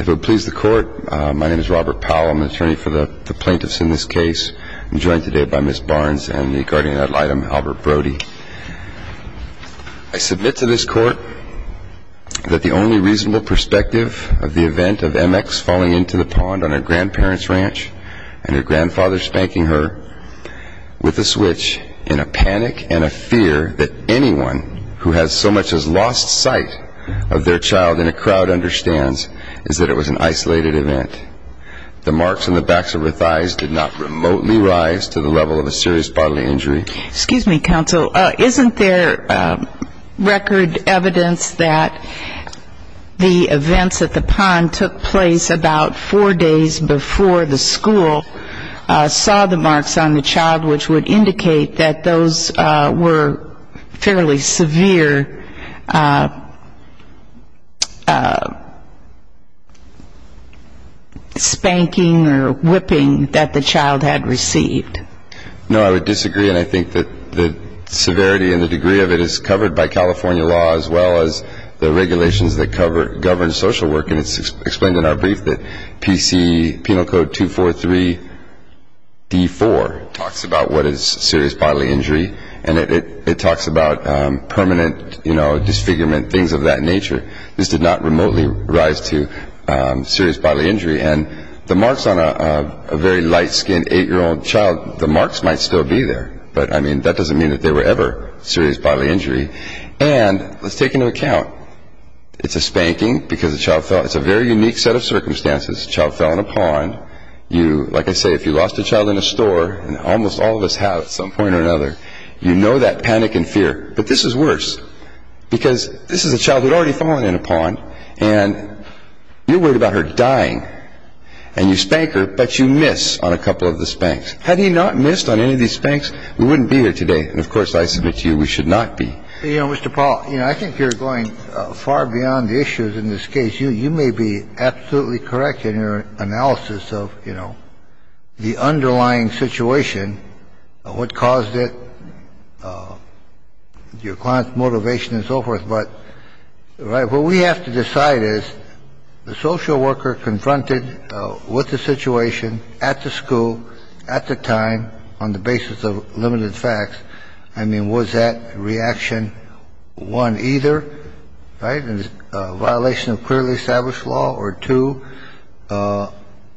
If it would please the court, my name is Robert Powell, I'm the attorney for the plaintiffs in this case. I'm joined today by Ms. Barnes and the guardian ad litem, Albert Brody. I submit to this court that the only reasonable perspective of the event of MX falling into the pond on her grandparents' ranch and her grandfather spanking her with a switch in a panic and a fear that anyone who has so much as lost sight of their child in a crowd understands is that it was an isolated event. The marks on the backs of her thighs did not remotely rise to the level of a serious bodily injury. Excuse me, counsel. Isn't there record evidence that the events at the pond took place about four days before the school saw the marks on the child, which would indicate that those were fairly severe spanking or whipping that the child had received? No, I would disagree, and I think that the severity and the degree of it is covered by California law, as well as the regulations that govern social work. And it's explained in our brief that PC, Penal Code 243-D4 talks about what is serious bodily injury, and it talks about permanent, you know, disfigurement, things of that nature. This did not remotely rise to serious bodily injury. And the marks on a very light-skinned 8-year-old child, the marks might still be there, but, I mean, that doesn't mean that they were ever serious bodily injury. And let's take into account, it's a spanking because the child fell. It's a very unique set of circumstances. The child fell in a pond. Like I say, if you lost a child in a store, and almost all of us have at some point or another, you know that panic and fear. But this is worse, because this is a child who had already fallen in a pond, and you're worried about her dying, and you spank her, but you miss on a couple of the spanks. Had he not missed on any of these spanks, we wouldn't be here today. And of course, I submit to you, we should not be. You know, Mr. Paul, you know, I think you're going far beyond the issues in this case. You may be absolutely correct in your analysis of, you know, the underlying situation, what caused it, your client's motivation and so forth. But what we have to decide is the social worker confronted with the situation at the school, at the time, on the basis of limited facts. I mean, was that reaction one, either, right, a violation of clearly established law, or two,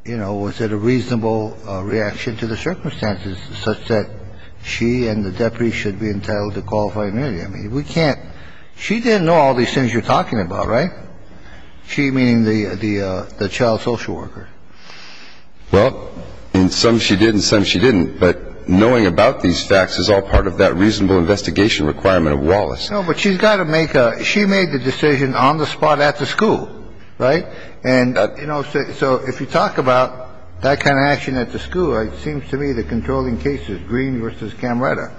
you know, was it a reasonable reaction to the circumstances such that she and the deputy should be entitled to qualified immunity? I mean, we can't ‑‑ she didn't know all these things you're talking about, right? She, meaning the child social worker. Well, in some she did, in some she didn't. But knowing about these facts is all part of that reasonable investigation requirement of Wallace. No, but she's got to make a ‑‑ she made the decision on the spot at the school, right? And, you know, so if you talk about that kind of action at the school, it seems to me the controlling case is Green v. Camaretta.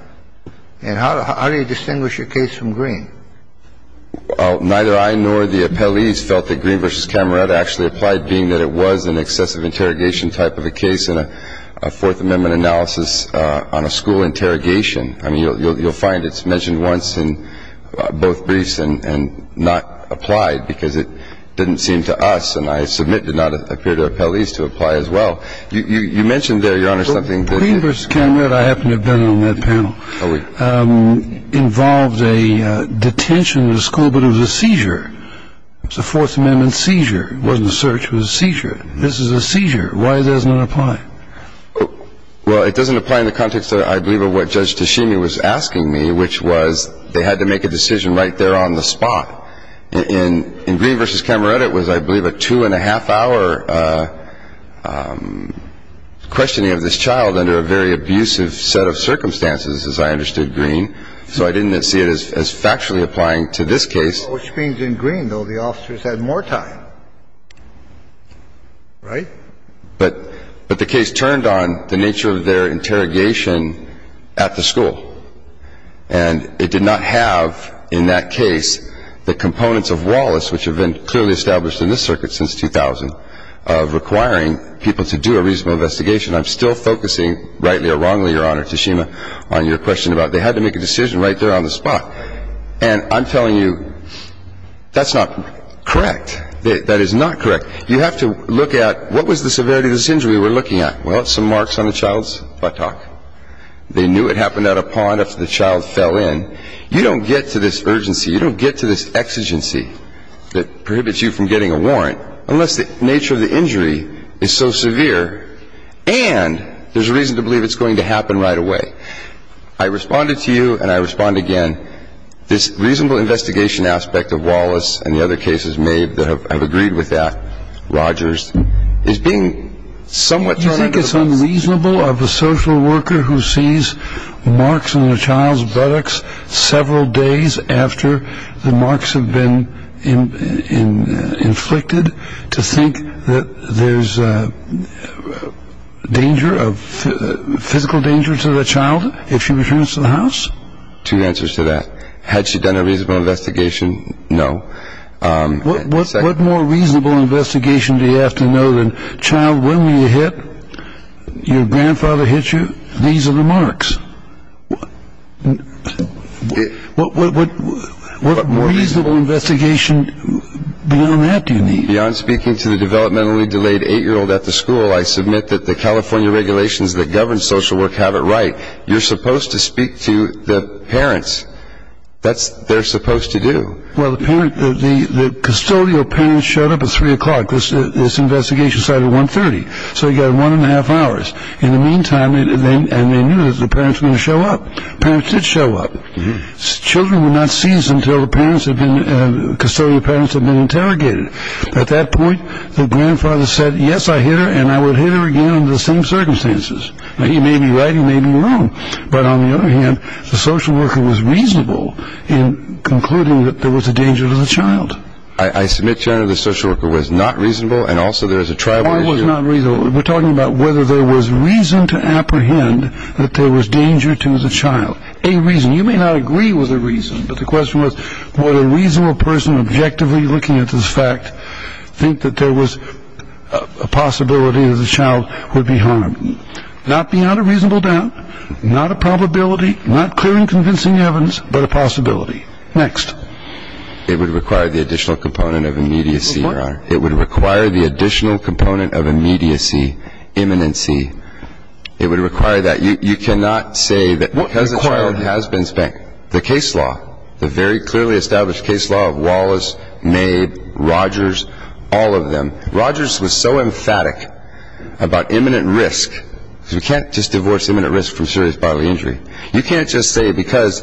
And how do you distinguish a case from Green? Well, neither I nor the appellees felt that Green v. Cameretta actually applied, being that it was an excessive interrogation type of a case in a Fourth Amendment analysis on a school interrogation. I mean, you'll find it's mentioned once in both briefs and not applied because it didn't seem to us, and I submit did not appear to appellees to apply as well. You mentioned there, Your Honor, something that ‑‑ but it was a seizure. It was a Fourth Amendment seizure. It wasn't a search. It was a seizure. This is a seizure. Why doesn't it apply? Well, it doesn't apply in the context, I believe, of what Judge Tashimi was asking me, which was they had to make a decision right there on the spot. And Green v. Cameretta was, I believe, a two-and-a-half-hour questioning of this child under a very abusive set of circumstances, as I understood Green. So I didn't see it as factually applying to this case. Which means in Green, though, the officers had more time, right? But the case turned on the nature of their interrogation at the school. And it did not have in that case the components of Wallace, which have been clearly established in this circuit since 2000, of requiring people to do a reasonable investigation. I'm still focusing, rightly or wrongly, Your Honor, Tashimi, on your question about they had to make a decision right there on the spot. And I'm telling you, that's not correct. That is not correct. You have to look at what was the severity of this injury we're looking at. Well, some marks on the child's buttock. They knew it happened at a pond after the child fell in. You don't get to this urgency. You don't get to this exigency that prohibits you from getting a warrant unless the nature of the injury is so severe and there's a reason to believe it's going to happen right away. I responded to you, and I respond again. This reasonable investigation aspect of Wallace and the other cases made that have agreed with that, Rogers, is being somewhat thrown under the bus. Do you think it's unreasonable of a social worker who sees marks on the child's buttocks several days after the marks have been inflicted to think that there's danger, physical danger to the child if she returns to the house? Two answers to that. Had she done a reasonable investigation? No. What more reasonable investigation do you have to know than, child, when you hit, your grandfather hit you, these are the marks? What more reasonable investigation beyond that do you need? Beyond speaking to the developmentally delayed eight-year-old at the school, I submit that the California regulations that govern social work have it right, you're supposed to speak to the parents. That's what they're supposed to do. Well, the custodial parents showed up at 3 o'clock. This investigation started at 1.30, so you've got one and a half hours. In the meantime, and they knew that the parents were going to show up. Parents did show up. Children were not seen until the custodial parents had been interrogated. At that point, the grandfather said, yes, I hit her, and I would hit her again under the same circumstances. Now, he may be right, he may be wrong, but on the other hand, the social worker was reasonable in concluding that there was a danger to the child. I submit, John, that the social worker was not reasonable, and also there is a tribal issue. I was not reasonable. We're talking about whether there was reason to apprehend that there was danger to the child. A reason, you may not agree with the reason, but the question was, would a reasonable person objectively looking at this fact think that there was a possibility that the child would be harmed? Not beyond a reasonable doubt, not a probability, not clear and convincing evidence, but a possibility. Next. It would require the additional component of immediacy, Your Honor. It would require the additional component of immediacy, imminency. It would require that. You cannot say that because the child has been spanked. The case law, the very clearly established case law of Wallace, Maid, Rogers, all of them. Rogers was so emphatic about imminent risk, because you can't just divorce imminent risk from serious bodily injury. You can't just say because,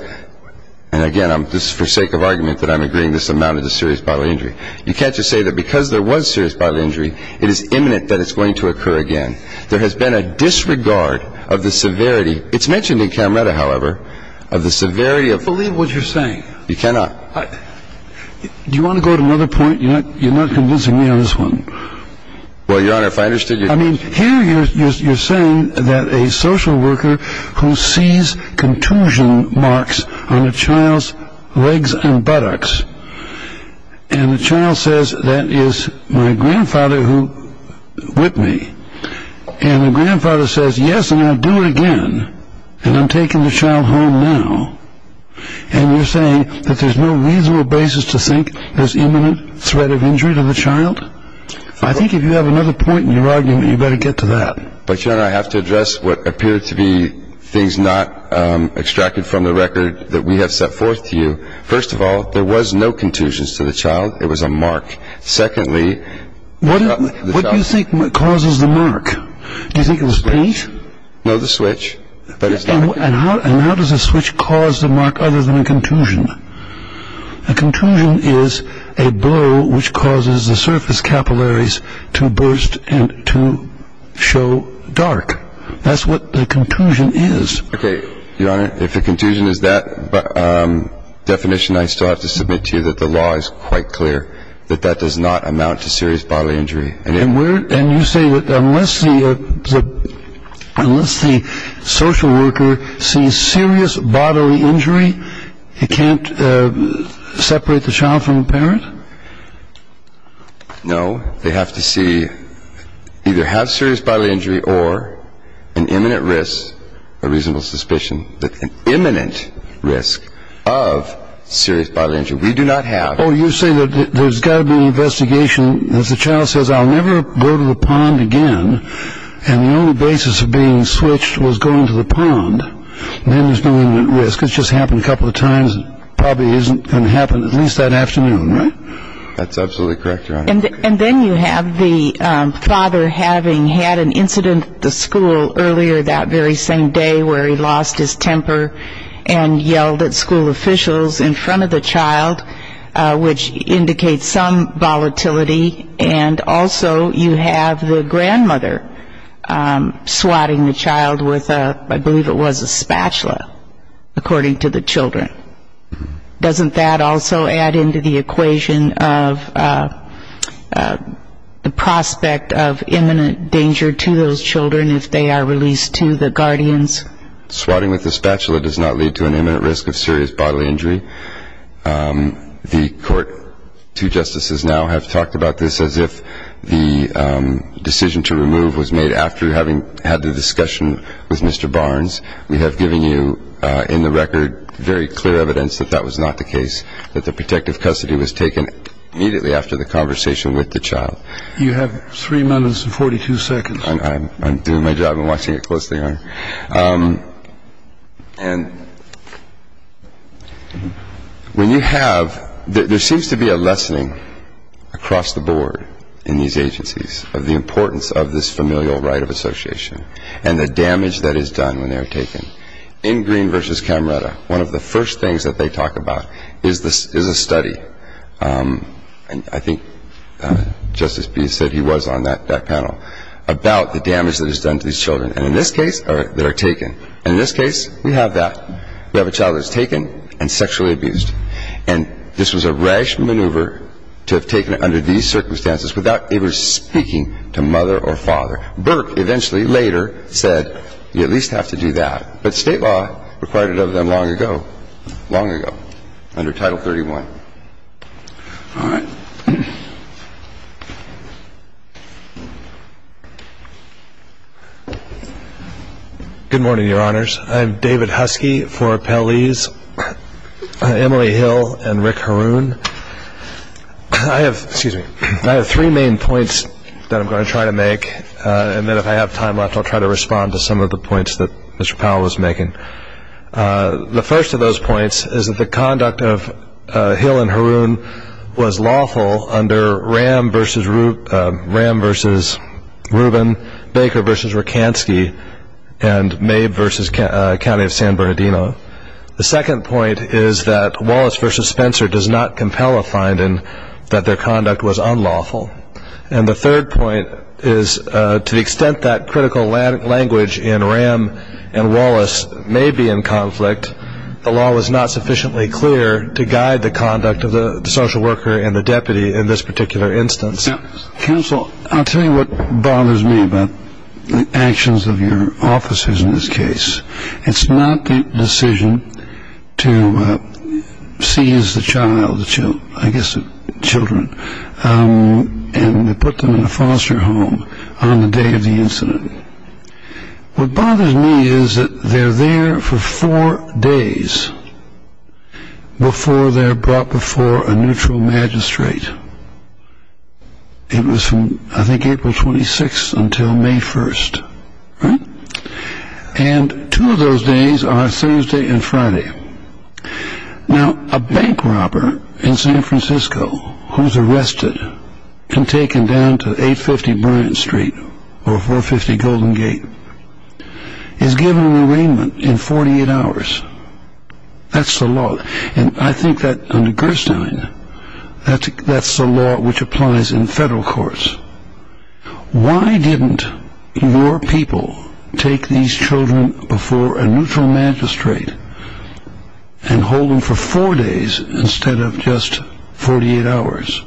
and again, this is for sake of argument that I'm agreeing, this amounted to serious bodily injury. You can't just say that because there was serious bodily injury, it is imminent that it's going to occur again. There has been a disregard of the severity. It's mentioned in Camretta, however, of the severity of. I don't believe what you're saying. You cannot. Do you want to go to another point? You're not convincing me on this one. Well, Your Honor, if I understood you. I mean, here you're saying that a social worker who sees contusion marks on a child's legs and buttocks, and the child says, that is my grandfather who whipped me. And the grandfather says, yes, and I'll do it again. And I'm taking the child home now. And you're saying that there's no reasonable basis to think there's imminent threat of injury to the child? I think if you have another point in your argument, you better get to that. But, Your Honor, I have to address what appear to be things not extracted from the record that we have set forth to you. First of all, there was no contusions to the child. It was a mark. Secondly. What do you think causes the mark? Do you think it was paint? No, the switch. And how does the switch cause the mark other than a contusion? A contusion is a blow which causes the surface capillaries to burst and to show dark. That's what the contusion is. Okay, Your Honor, if the contusion is that definition, I still have to submit to you that the law is quite clear that that does not amount to serious bodily injury. And you say that unless the social worker sees serious bodily injury, he can't separate the child from the parent? No. They have to see either have serious bodily injury or an imminent risk, a reasonable suspicion, an imminent risk of serious bodily injury. We do not have. Oh, you say that there's got to be an investigation. If the child says, I'll never go to the pond again, and the only basis of being switched was going to the pond, then there's no imminent risk. It's just happened a couple of times. It probably isn't going to happen at least that afternoon, right? That's absolutely correct, Your Honor. And then you have the father having had an incident at the school earlier that very same day where he lost his temper and yelled at school officials in front of the child, which indicates some volatility. And also you have the grandmother swatting the child with, I believe it was a spatula, according to the children. Doesn't that also add into the equation of the prospect of imminent danger to those children if they are released to the guardians? Swatting with a spatula does not lead to an imminent risk of serious bodily injury. The court, two justices now have talked about this as if the decision to remove was made after having had the discussion with Mr. Barnes. We have given you in the record very clear evidence that that was not the case, that the protective custody was taken immediately after the conversation with the child. You have three minutes and 42 seconds. I'm doing my job and watching it closely, Your Honor. And when you have – there seems to be a lessening across the board in these agencies of the importance of this familial right of association and the damage that is done when they are taken. In Green v. Camreta, one of the first things that they talk about is a study, and I think Justice Beast said he was on that panel, about the damage that is done to these children. And in this case, they are taken. And in this case, we have that. We have a child that is taken and sexually abused. And this was a rash maneuver to have taken it under these circumstances without ever speaking to mother or father. Burke eventually later said, you at least have to do that. But state law required it of them long ago, long ago, under Title 31. All right. Good morning, Your Honors. I'm David Huskey for Appellees, Emily Hill and Rick Haroon. I have three main points that I'm going to try to make. And then if I have time left, I'll try to respond to some of the points that Mr. Powell was making. The first of those points is that the conduct of Hill and Haroon was lawful under Ram v. Rubin, Baker v. Rakansky, and Mabe v. County of San Bernardino. The second point is that Wallace v. Spencer does not compel a finding that their conduct was unlawful. And the third point is to the extent that critical language in Ram and Wallace may be in conflict, the law was not sufficiently clear to guide the conduct of the social worker and the deputy in this particular instance. Counsel, I'll tell you what bothers me about the actions of your officers in this case. It's not the decision to seize the child, I guess the children, and put them in a foster home on the day of the incident. What bothers me is that they're there for four days before they're brought before a neutral magistrate. It was from, I think, April 26th until May 1st. And two of those days are Thursday and Friday. Now, a bank robber in San Francisco who's arrested and taken down to 850 Bryant Street or 450 Golden Gate is given an arraignment in 48 hours. That's the law, and I think that under Gerstein, that's the law which applies in federal courts. Why didn't your people take these children before a neutral magistrate and hold them for four days instead of just 48 hours?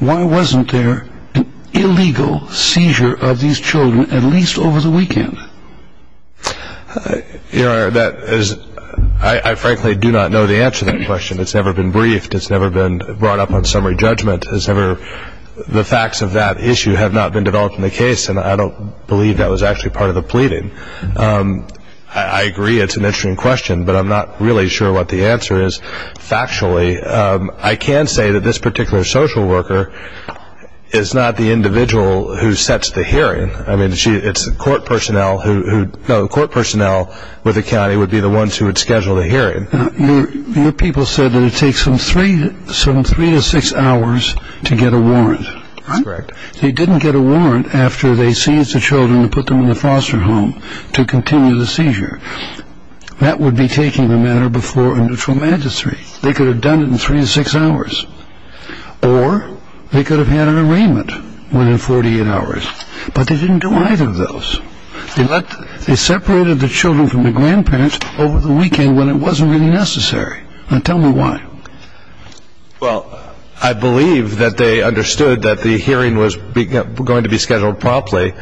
Why wasn't there an illegal seizure of these children at least over the weekend? You know, I frankly do not know the answer to that question. It's never been briefed. It's never been brought up on summary judgment. The facts of that issue have not been developed in the case, and I don't believe that was actually part of the pleading. I agree it's an interesting question, but I'm not really sure what the answer is factually. I can say that this particular social worker is not the individual who sets the hearing. I mean, it's court personnel who would go. Court personnel with the county would be the ones who would schedule the hearing. Your people said that it takes them three to six hours to get a warrant. That's correct. They didn't get a warrant after they seized the children and put them in the foster home to continue the seizure. That would be taking the matter before a neutral magistrate. They could have done it in three to six hours, or they could have had an arraignment within 48 hours, but they didn't do either of those. They separated the children from the grandparents over the weekend when it wasn't really necessary. Now tell me why. Well, I believe that they understood that the hearing was going to be scheduled promptly,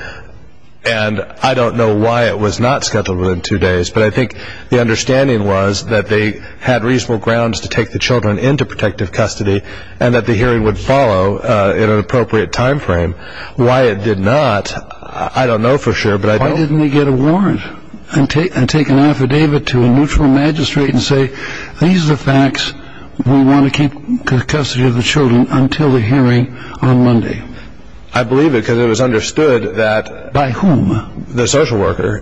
and I don't know why it was not scheduled within two days, but I think the understanding was that they had reasonable grounds to take the children into protective custody and that the hearing would follow in an appropriate time frame. Why it did not, I don't know for sure, but I don't... Why didn't they get a warrant and take an affidavit to a neutral magistrate and say, these are the facts, we want to keep custody of the children until the hearing on Monday? I believe it because it was understood that... By whom? The social worker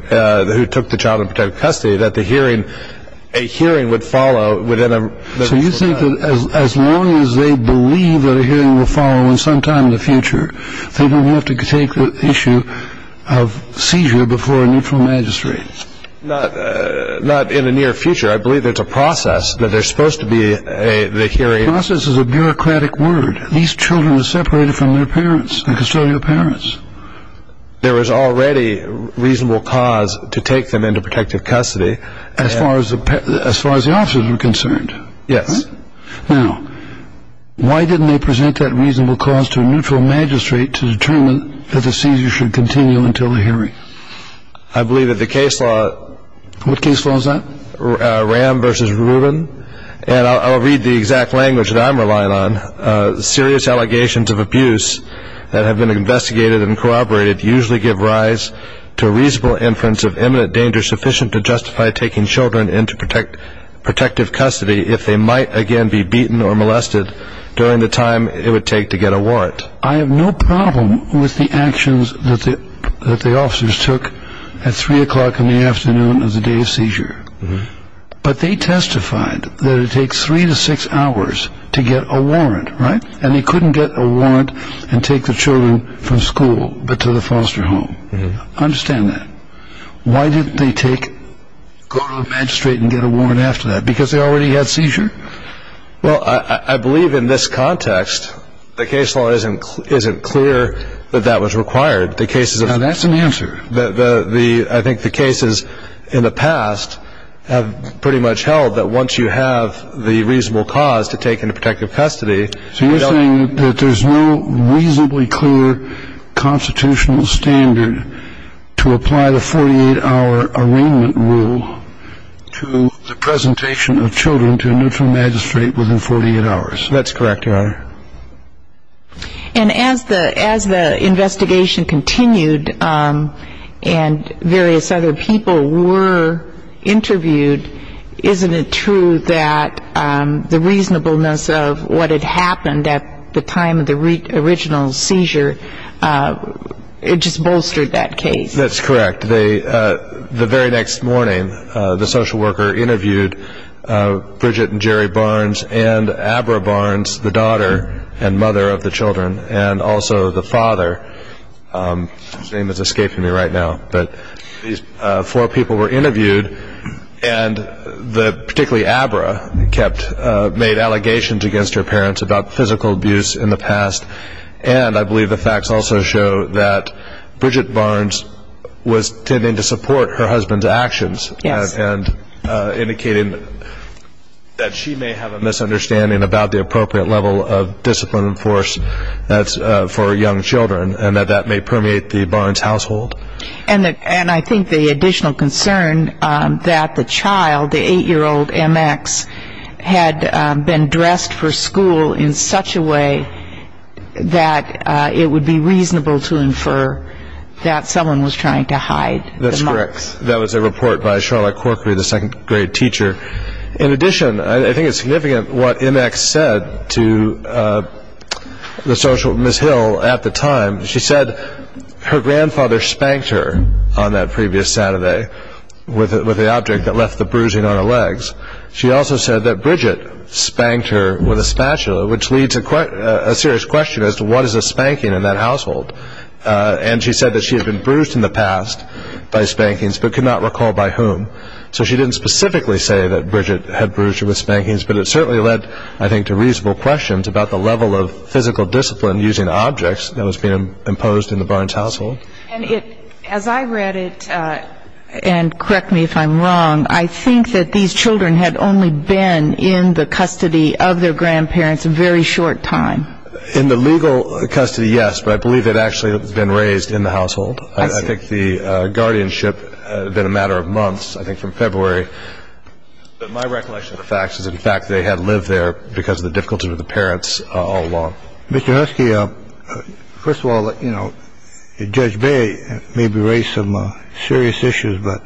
who took the child in protective custody, that a hearing would follow within a... They didn't have to take the issue of seizure before a neutral magistrate. Not in the near future. I believe it's a process, that there's supposed to be the hearing... Process is a bureaucratic word. These children were separated from their parents, the custodial parents. There was already reasonable cause to take them into protective custody. As far as the officers were concerned. Yes. Now, why didn't they present that reasonable cause to a neutral magistrate to determine that the seizure should continue until the hearing? I believe that the case law... What case law is that? Ram v. Rubin. And I'll read the exact language that I'm relying on. Serious allegations of abuse that have been investigated and corroborated usually give rise to a reasonable inference of imminent danger sufficient to justify taking children into protective custody if they might again be beaten or molested during the time it would take to get a warrant. I have no problem with the actions that the officers took at 3 o'clock in the afternoon of the day of seizure. But they testified that it takes 3 to 6 hours to get a warrant, right? And they couldn't get a warrant and take the children from school but to the foster home. I understand that. Why didn't they go to a magistrate and get a warrant after that? Because they already had seizure? Well, I believe in this context the case law isn't clear that that was required. Now, that's an answer. I think the cases in the past have pretty much held that once you have the reasonable cause to take into protective custody... ...to the presentation of children to a magistrate within 48 hours. That's correct, Your Honor. And as the investigation continued and various other people were interviewed, isn't it true that the reasonableness of what had happened at the time of the original seizure, it just bolstered that case? That's correct. The very next morning the social worker interviewed Bridget and Jerry Barnes and Abra Barnes, the daughter and mother of the children, and also the father. His name is escaping me right now. But these four people were interviewed, and particularly Abra made allegations against her parents about physical abuse in the past. And I believe the facts also show that Bridget Barnes was tending to support her husband's actions... Yes. ...and indicating that she may have a misunderstanding about the appropriate level of discipline and force for young children and that that may permeate the Barnes household. And I think the additional concern that the child, the 8-year-old MX, had been dressed for school in such a way that it would be reasonable to infer that someone was trying to hide the marks. That's correct. That was a report by Charlotte Corkery, the second-grade teacher. In addition, I think it's significant what MX said to the social worker, Ms. Hill, at the time. She said her grandfather spanked her on that previous Saturday with the object that left the bruising on her legs. She also said that Bridget spanked her with a spatula, which leads to a serious question as to what is a spanking in that household. And she said that she had been bruised in the past by spankings but could not recall by whom. So she didn't specifically say that Bridget had bruised her with spankings, but it certainly led, I think, to reasonable questions about the level of physical discipline using objects that was being imposed in the Barnes household. And as I read it, and correct me if I'm wrong, I think that these children had only been in the custody of their grandparents a very short time. In the legal custody, yes, but I believe they'd actually been raised in the household. I think the guardianship had been a matter of months, I think from February. But my recollection of the facts is, in fact, they had lived there because of the difficulty with the parents all along. Mr. Husky, first of all, you know, Judge Bay may be raised some serious issues, but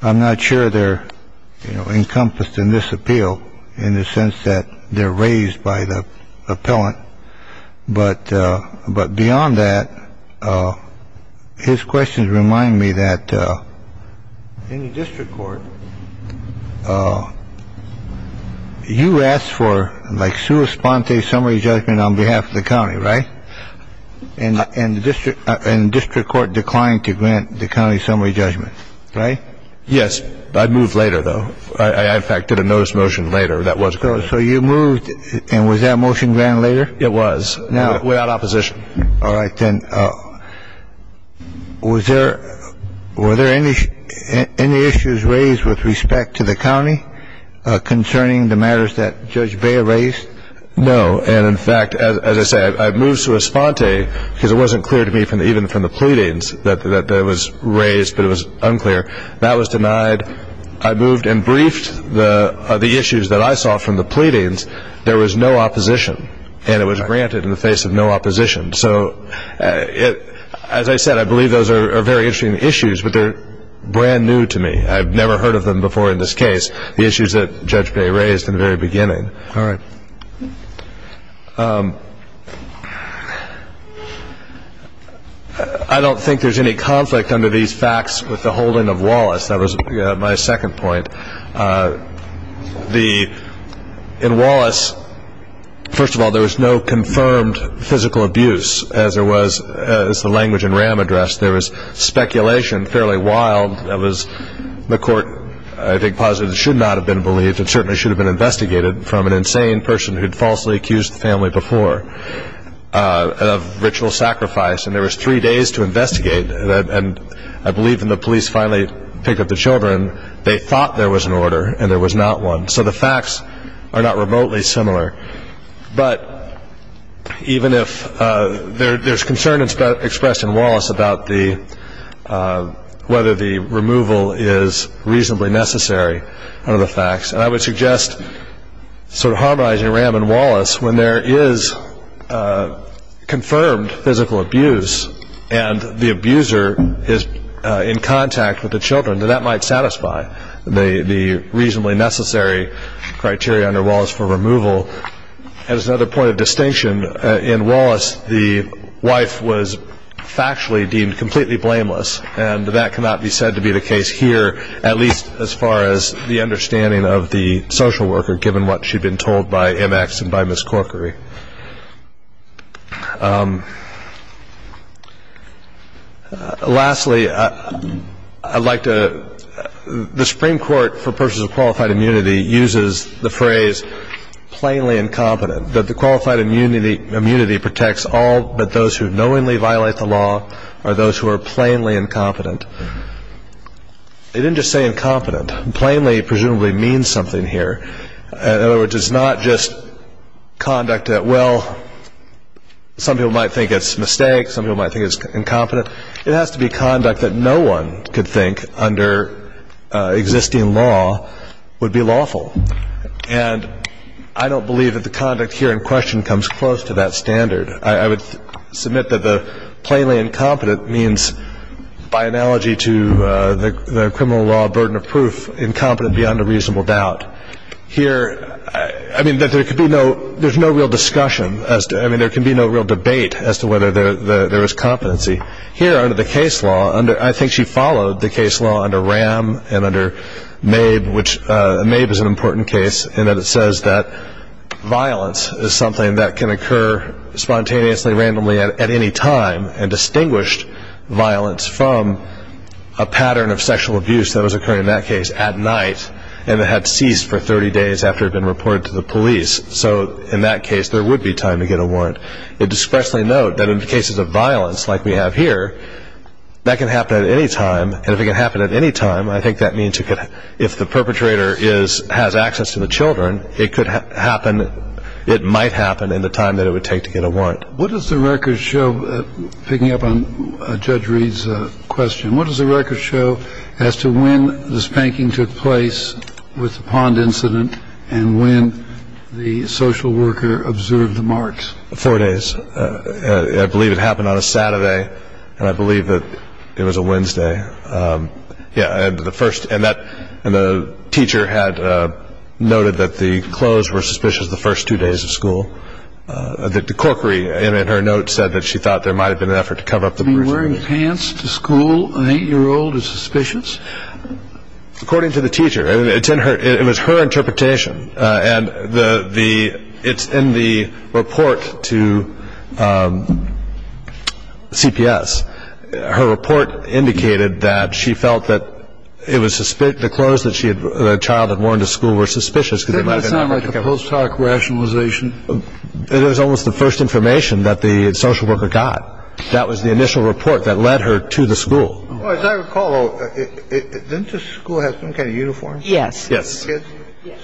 I'm not sure they're encompassed in this appeal in the sense that they're raised by the appellant. But but beyond that, his questions remind me that any district court. You asked for like to respond to a summary judgment on behalf of the county. Right. And the district and district court declined to grant the county summary judgment. Right. Yes. I'd move later, though. I, in fact, did a notice motion later. That was good. So you moved. And was that motion ran later? It was now without opposition. All right. Then was there were there any any issues raised with respect to the county concerning the matters that Judge Bay raised? No. And in fact, as I said, I've moved to a sponte because it wasn't clear to me from even from the pleadings that that was raised. But it was unclear that was denied. I moved and briefed the the issues that I saw from the pleadings. There was no opposition and it was granted in the face of no opposition. So, as I said, I believe those are very interesting issues, but they're brand new to me. I've never heard of them before in this case. The issues that Judge Bay raised in the very beginning. All right. I don't think there's any conflict under these facts with the holding of Wallace. That was my second point. The in Wallace. First of all, there was no confirmed physical abuse as there was as the language in RAM addressed. There was speculation fairly wild. That was the court. I think positive should not have been believed. It certainly should have been investigated from an insane person who had falsely accused the family before of ritual sacrifice. And there was three days to investigate that. And I believe in the police finally picked up the children. They thought there was an order and there was not one. So the facts are not remotely similar. But even if there's concern, it's better expressed in Wallace about the whether the removal is reasonably necessary. And I would suggest sort of harmonizing RAM and Wallace when there is confirmed physical abuse and the abuser is in contact with the children, that that might satisfy the reasonably necessary criteria under Wallace for removal. As another point of distinction in Wallace, the wife was factually deemed completely blameless. And that cannot be said to be the case here, at least as far as the understanding of the social worker, given what she'd been told by MX and by Miss Corkery. Lastly, I'd like to the Supreme Court for persons of qualified immunity uses the phrase plainly incompetent, that the qualified immunity protects all but those who knowingly violate the law or those who are plainly incompetent. They didn't just say incompetent. Plainly presumably means something here. In other words, it's not just conduct that, well, some people might think it's a mistake. Some people might think it's incompetent. It has to be conduct that no one could think under existing law would be lawful. And I don't believe that the conduct here in question comes close to that standard. I would submit that the plainly incompetent means, by analogy to the criminal law burden of proof, incompetent beyond a reasonable doubt. Here, I mean, there's no real discussion. I mean, there can be no real debate as to whether there is competency. Here, under the case law, I think she followed the case law under Ram and under Mabe, which Mabe is an important case, in that it says that violence is something that can occur spontaneously, randomly at any time and distinguished violence from a pattern of sexual abuse that was occurring in that case at night and that had ceased for 30 days after it had been reported to the police. So in that case, there would be time to get a warrant. I'd expressly note that in cases of violence like we have here, that can happen at any time, and if it can happen at any time, I think that means if the perpetrator has access to the children, it might happen in the time that it would take to get a warrant. What does the record show, picking up on Judge Reed's question, what does the record show as to when the spanking took place with the pond incident and when the social worker observed the marks? Four days. I believe it happened on a Saturday, and I believe that it was a Wednesday. Yeah, and the teacher had noted that the clothes were suspicious the first two days of school. The corkery in her note said that she thought there might have been an effort to cover up the bruises. You mean wearing pants to school, an eight-year-old, is suspicious? According to the teacher, it was her interpretation, and it's in the report to CPS. Her report indicated that she felt that the clothes that the child had worn to school were suspicious. Does that sound like the post-hoc rationalization? It was almost the first information that the social worker got. That was the initial report that led her to the school. As I recall, didn't the school have some kind of uniform? Yes.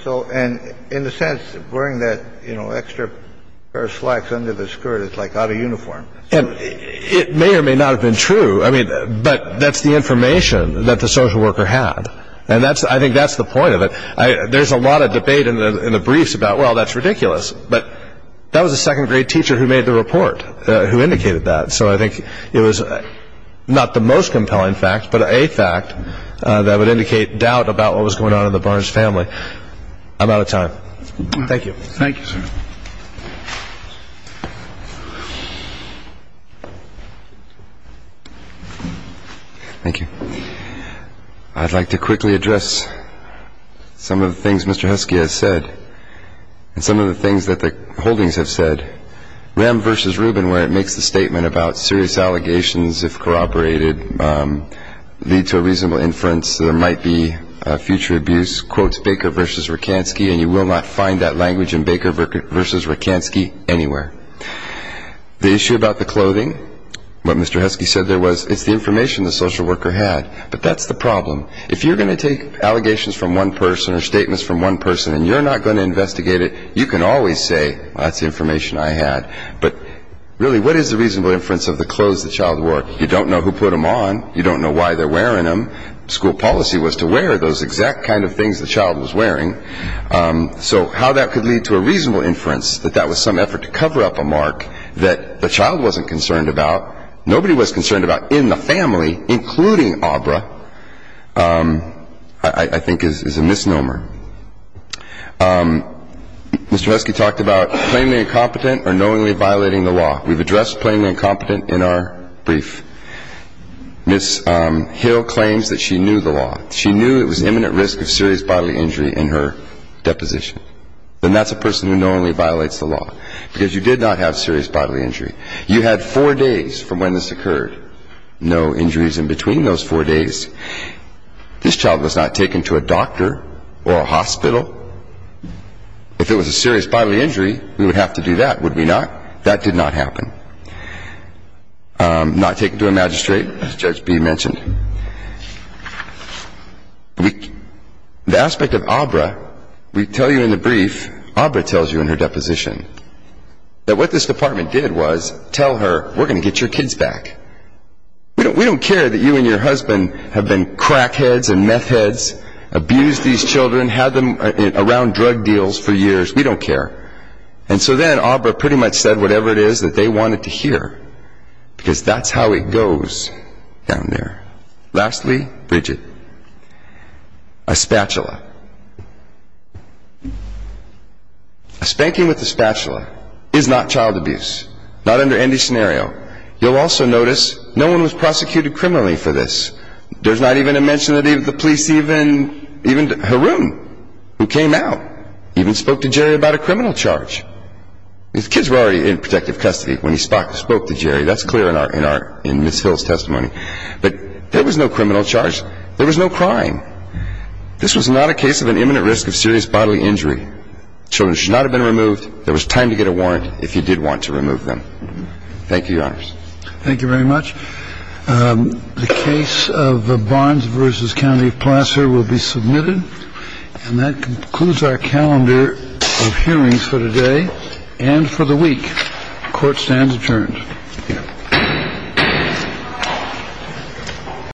And in a sense, wearing that extra pair of slacks under the skirt is like out of uniform. It may or may not have been true, but that's the information that the social worker had, and I think that's the point of it. There's a lot of debate in the briefs about, well, that's ridiculous, but that was a second-grade teacher who made the report who indicated that, so I think it was not the most compelling fact, but a fact that would indicate doubt about what was going on in the Barnes family. I'm out of time. Thank you. Thank you, sir. Thank you. I'd like to quickly address some of the things Mr. Husky has said and some of the things that the holdings have said. Rem v. Rubin, where it makes the statement about serious allegations, if corroborated, lead to a reasonable inference that there might be future abuse, quotes Baker v. Rakansky, and you will not find that language in Baker v. Rakansky anywhere. The issue about the clothing, what Mr. Husky said there was, it's the information the social worker had, but that's the problem. If you're going to take allegations from one person or statements from one person and you're not going to investigate it, you can always say, well, that's the information I had. But really, what is the reasonable inference of the clothes the child wore? You don't know who put them on. You don't know why they're wearing them. School policy was to wear those exact kind of things the child was wearing. So how that could lead to a reasonable inference that that was some effort to cover up a mark that the child wasn't concerned about, nobody was concerned about in the family, including Aubra, I think is a misnomer. Mr. Husky talked about plainly incompetent or knowingly violating the law. We've addressed plainly incompetent in our brief. Ms. Hill claims that she knew the law. She knew it was imminent risk of serious bodily injury in her deposition. Then that's a person who knowingly violates the law because you did not have serious bodily injury. You had four days from when this occurred. No injuries in between those four days. This child was not taken to a doctor or a hospital. If it was a serious bodily injury, we would have to do that, would we not? That did not happen. Not taken to a magistrate, as Judge B mentioned. The aspect of Aubra, we tell you in the brief, Aubra tells you in her deposition, that what this department did was tell her, we're going to get your kids back. We don't care that you and your husband have been crackheads and meth heads, abused these children, had them around drug deals for years. We don't care. And so then Aubra pretty much said whatever it is that they wanted to hear because that's how it goes down there. Lastly, Bridget. A spatula. A spanking with a spatula is not child abuse. Not under any scenario. You'll also notice no one was prosecuted criminally for this. There's not even a mention that the police even, even Haroon, who came out, even spoke to Jerry about a criminal charge. His kids were already in protective custody when he spoke to Jerry. That's clear in Ms. Phil's testimony. But there was no criminal charge. There was no crime. This was not a case of an imminent risk of serious bodily injury. Children should not have been removed. There was time to get a warrant if you did want to remove them. Thank you, Your Honors. Thank you very much. The case of Barnes v. County of Placer will be submitted. And that concludes our calendar of hearings for today and for the week. Court stands adjourned.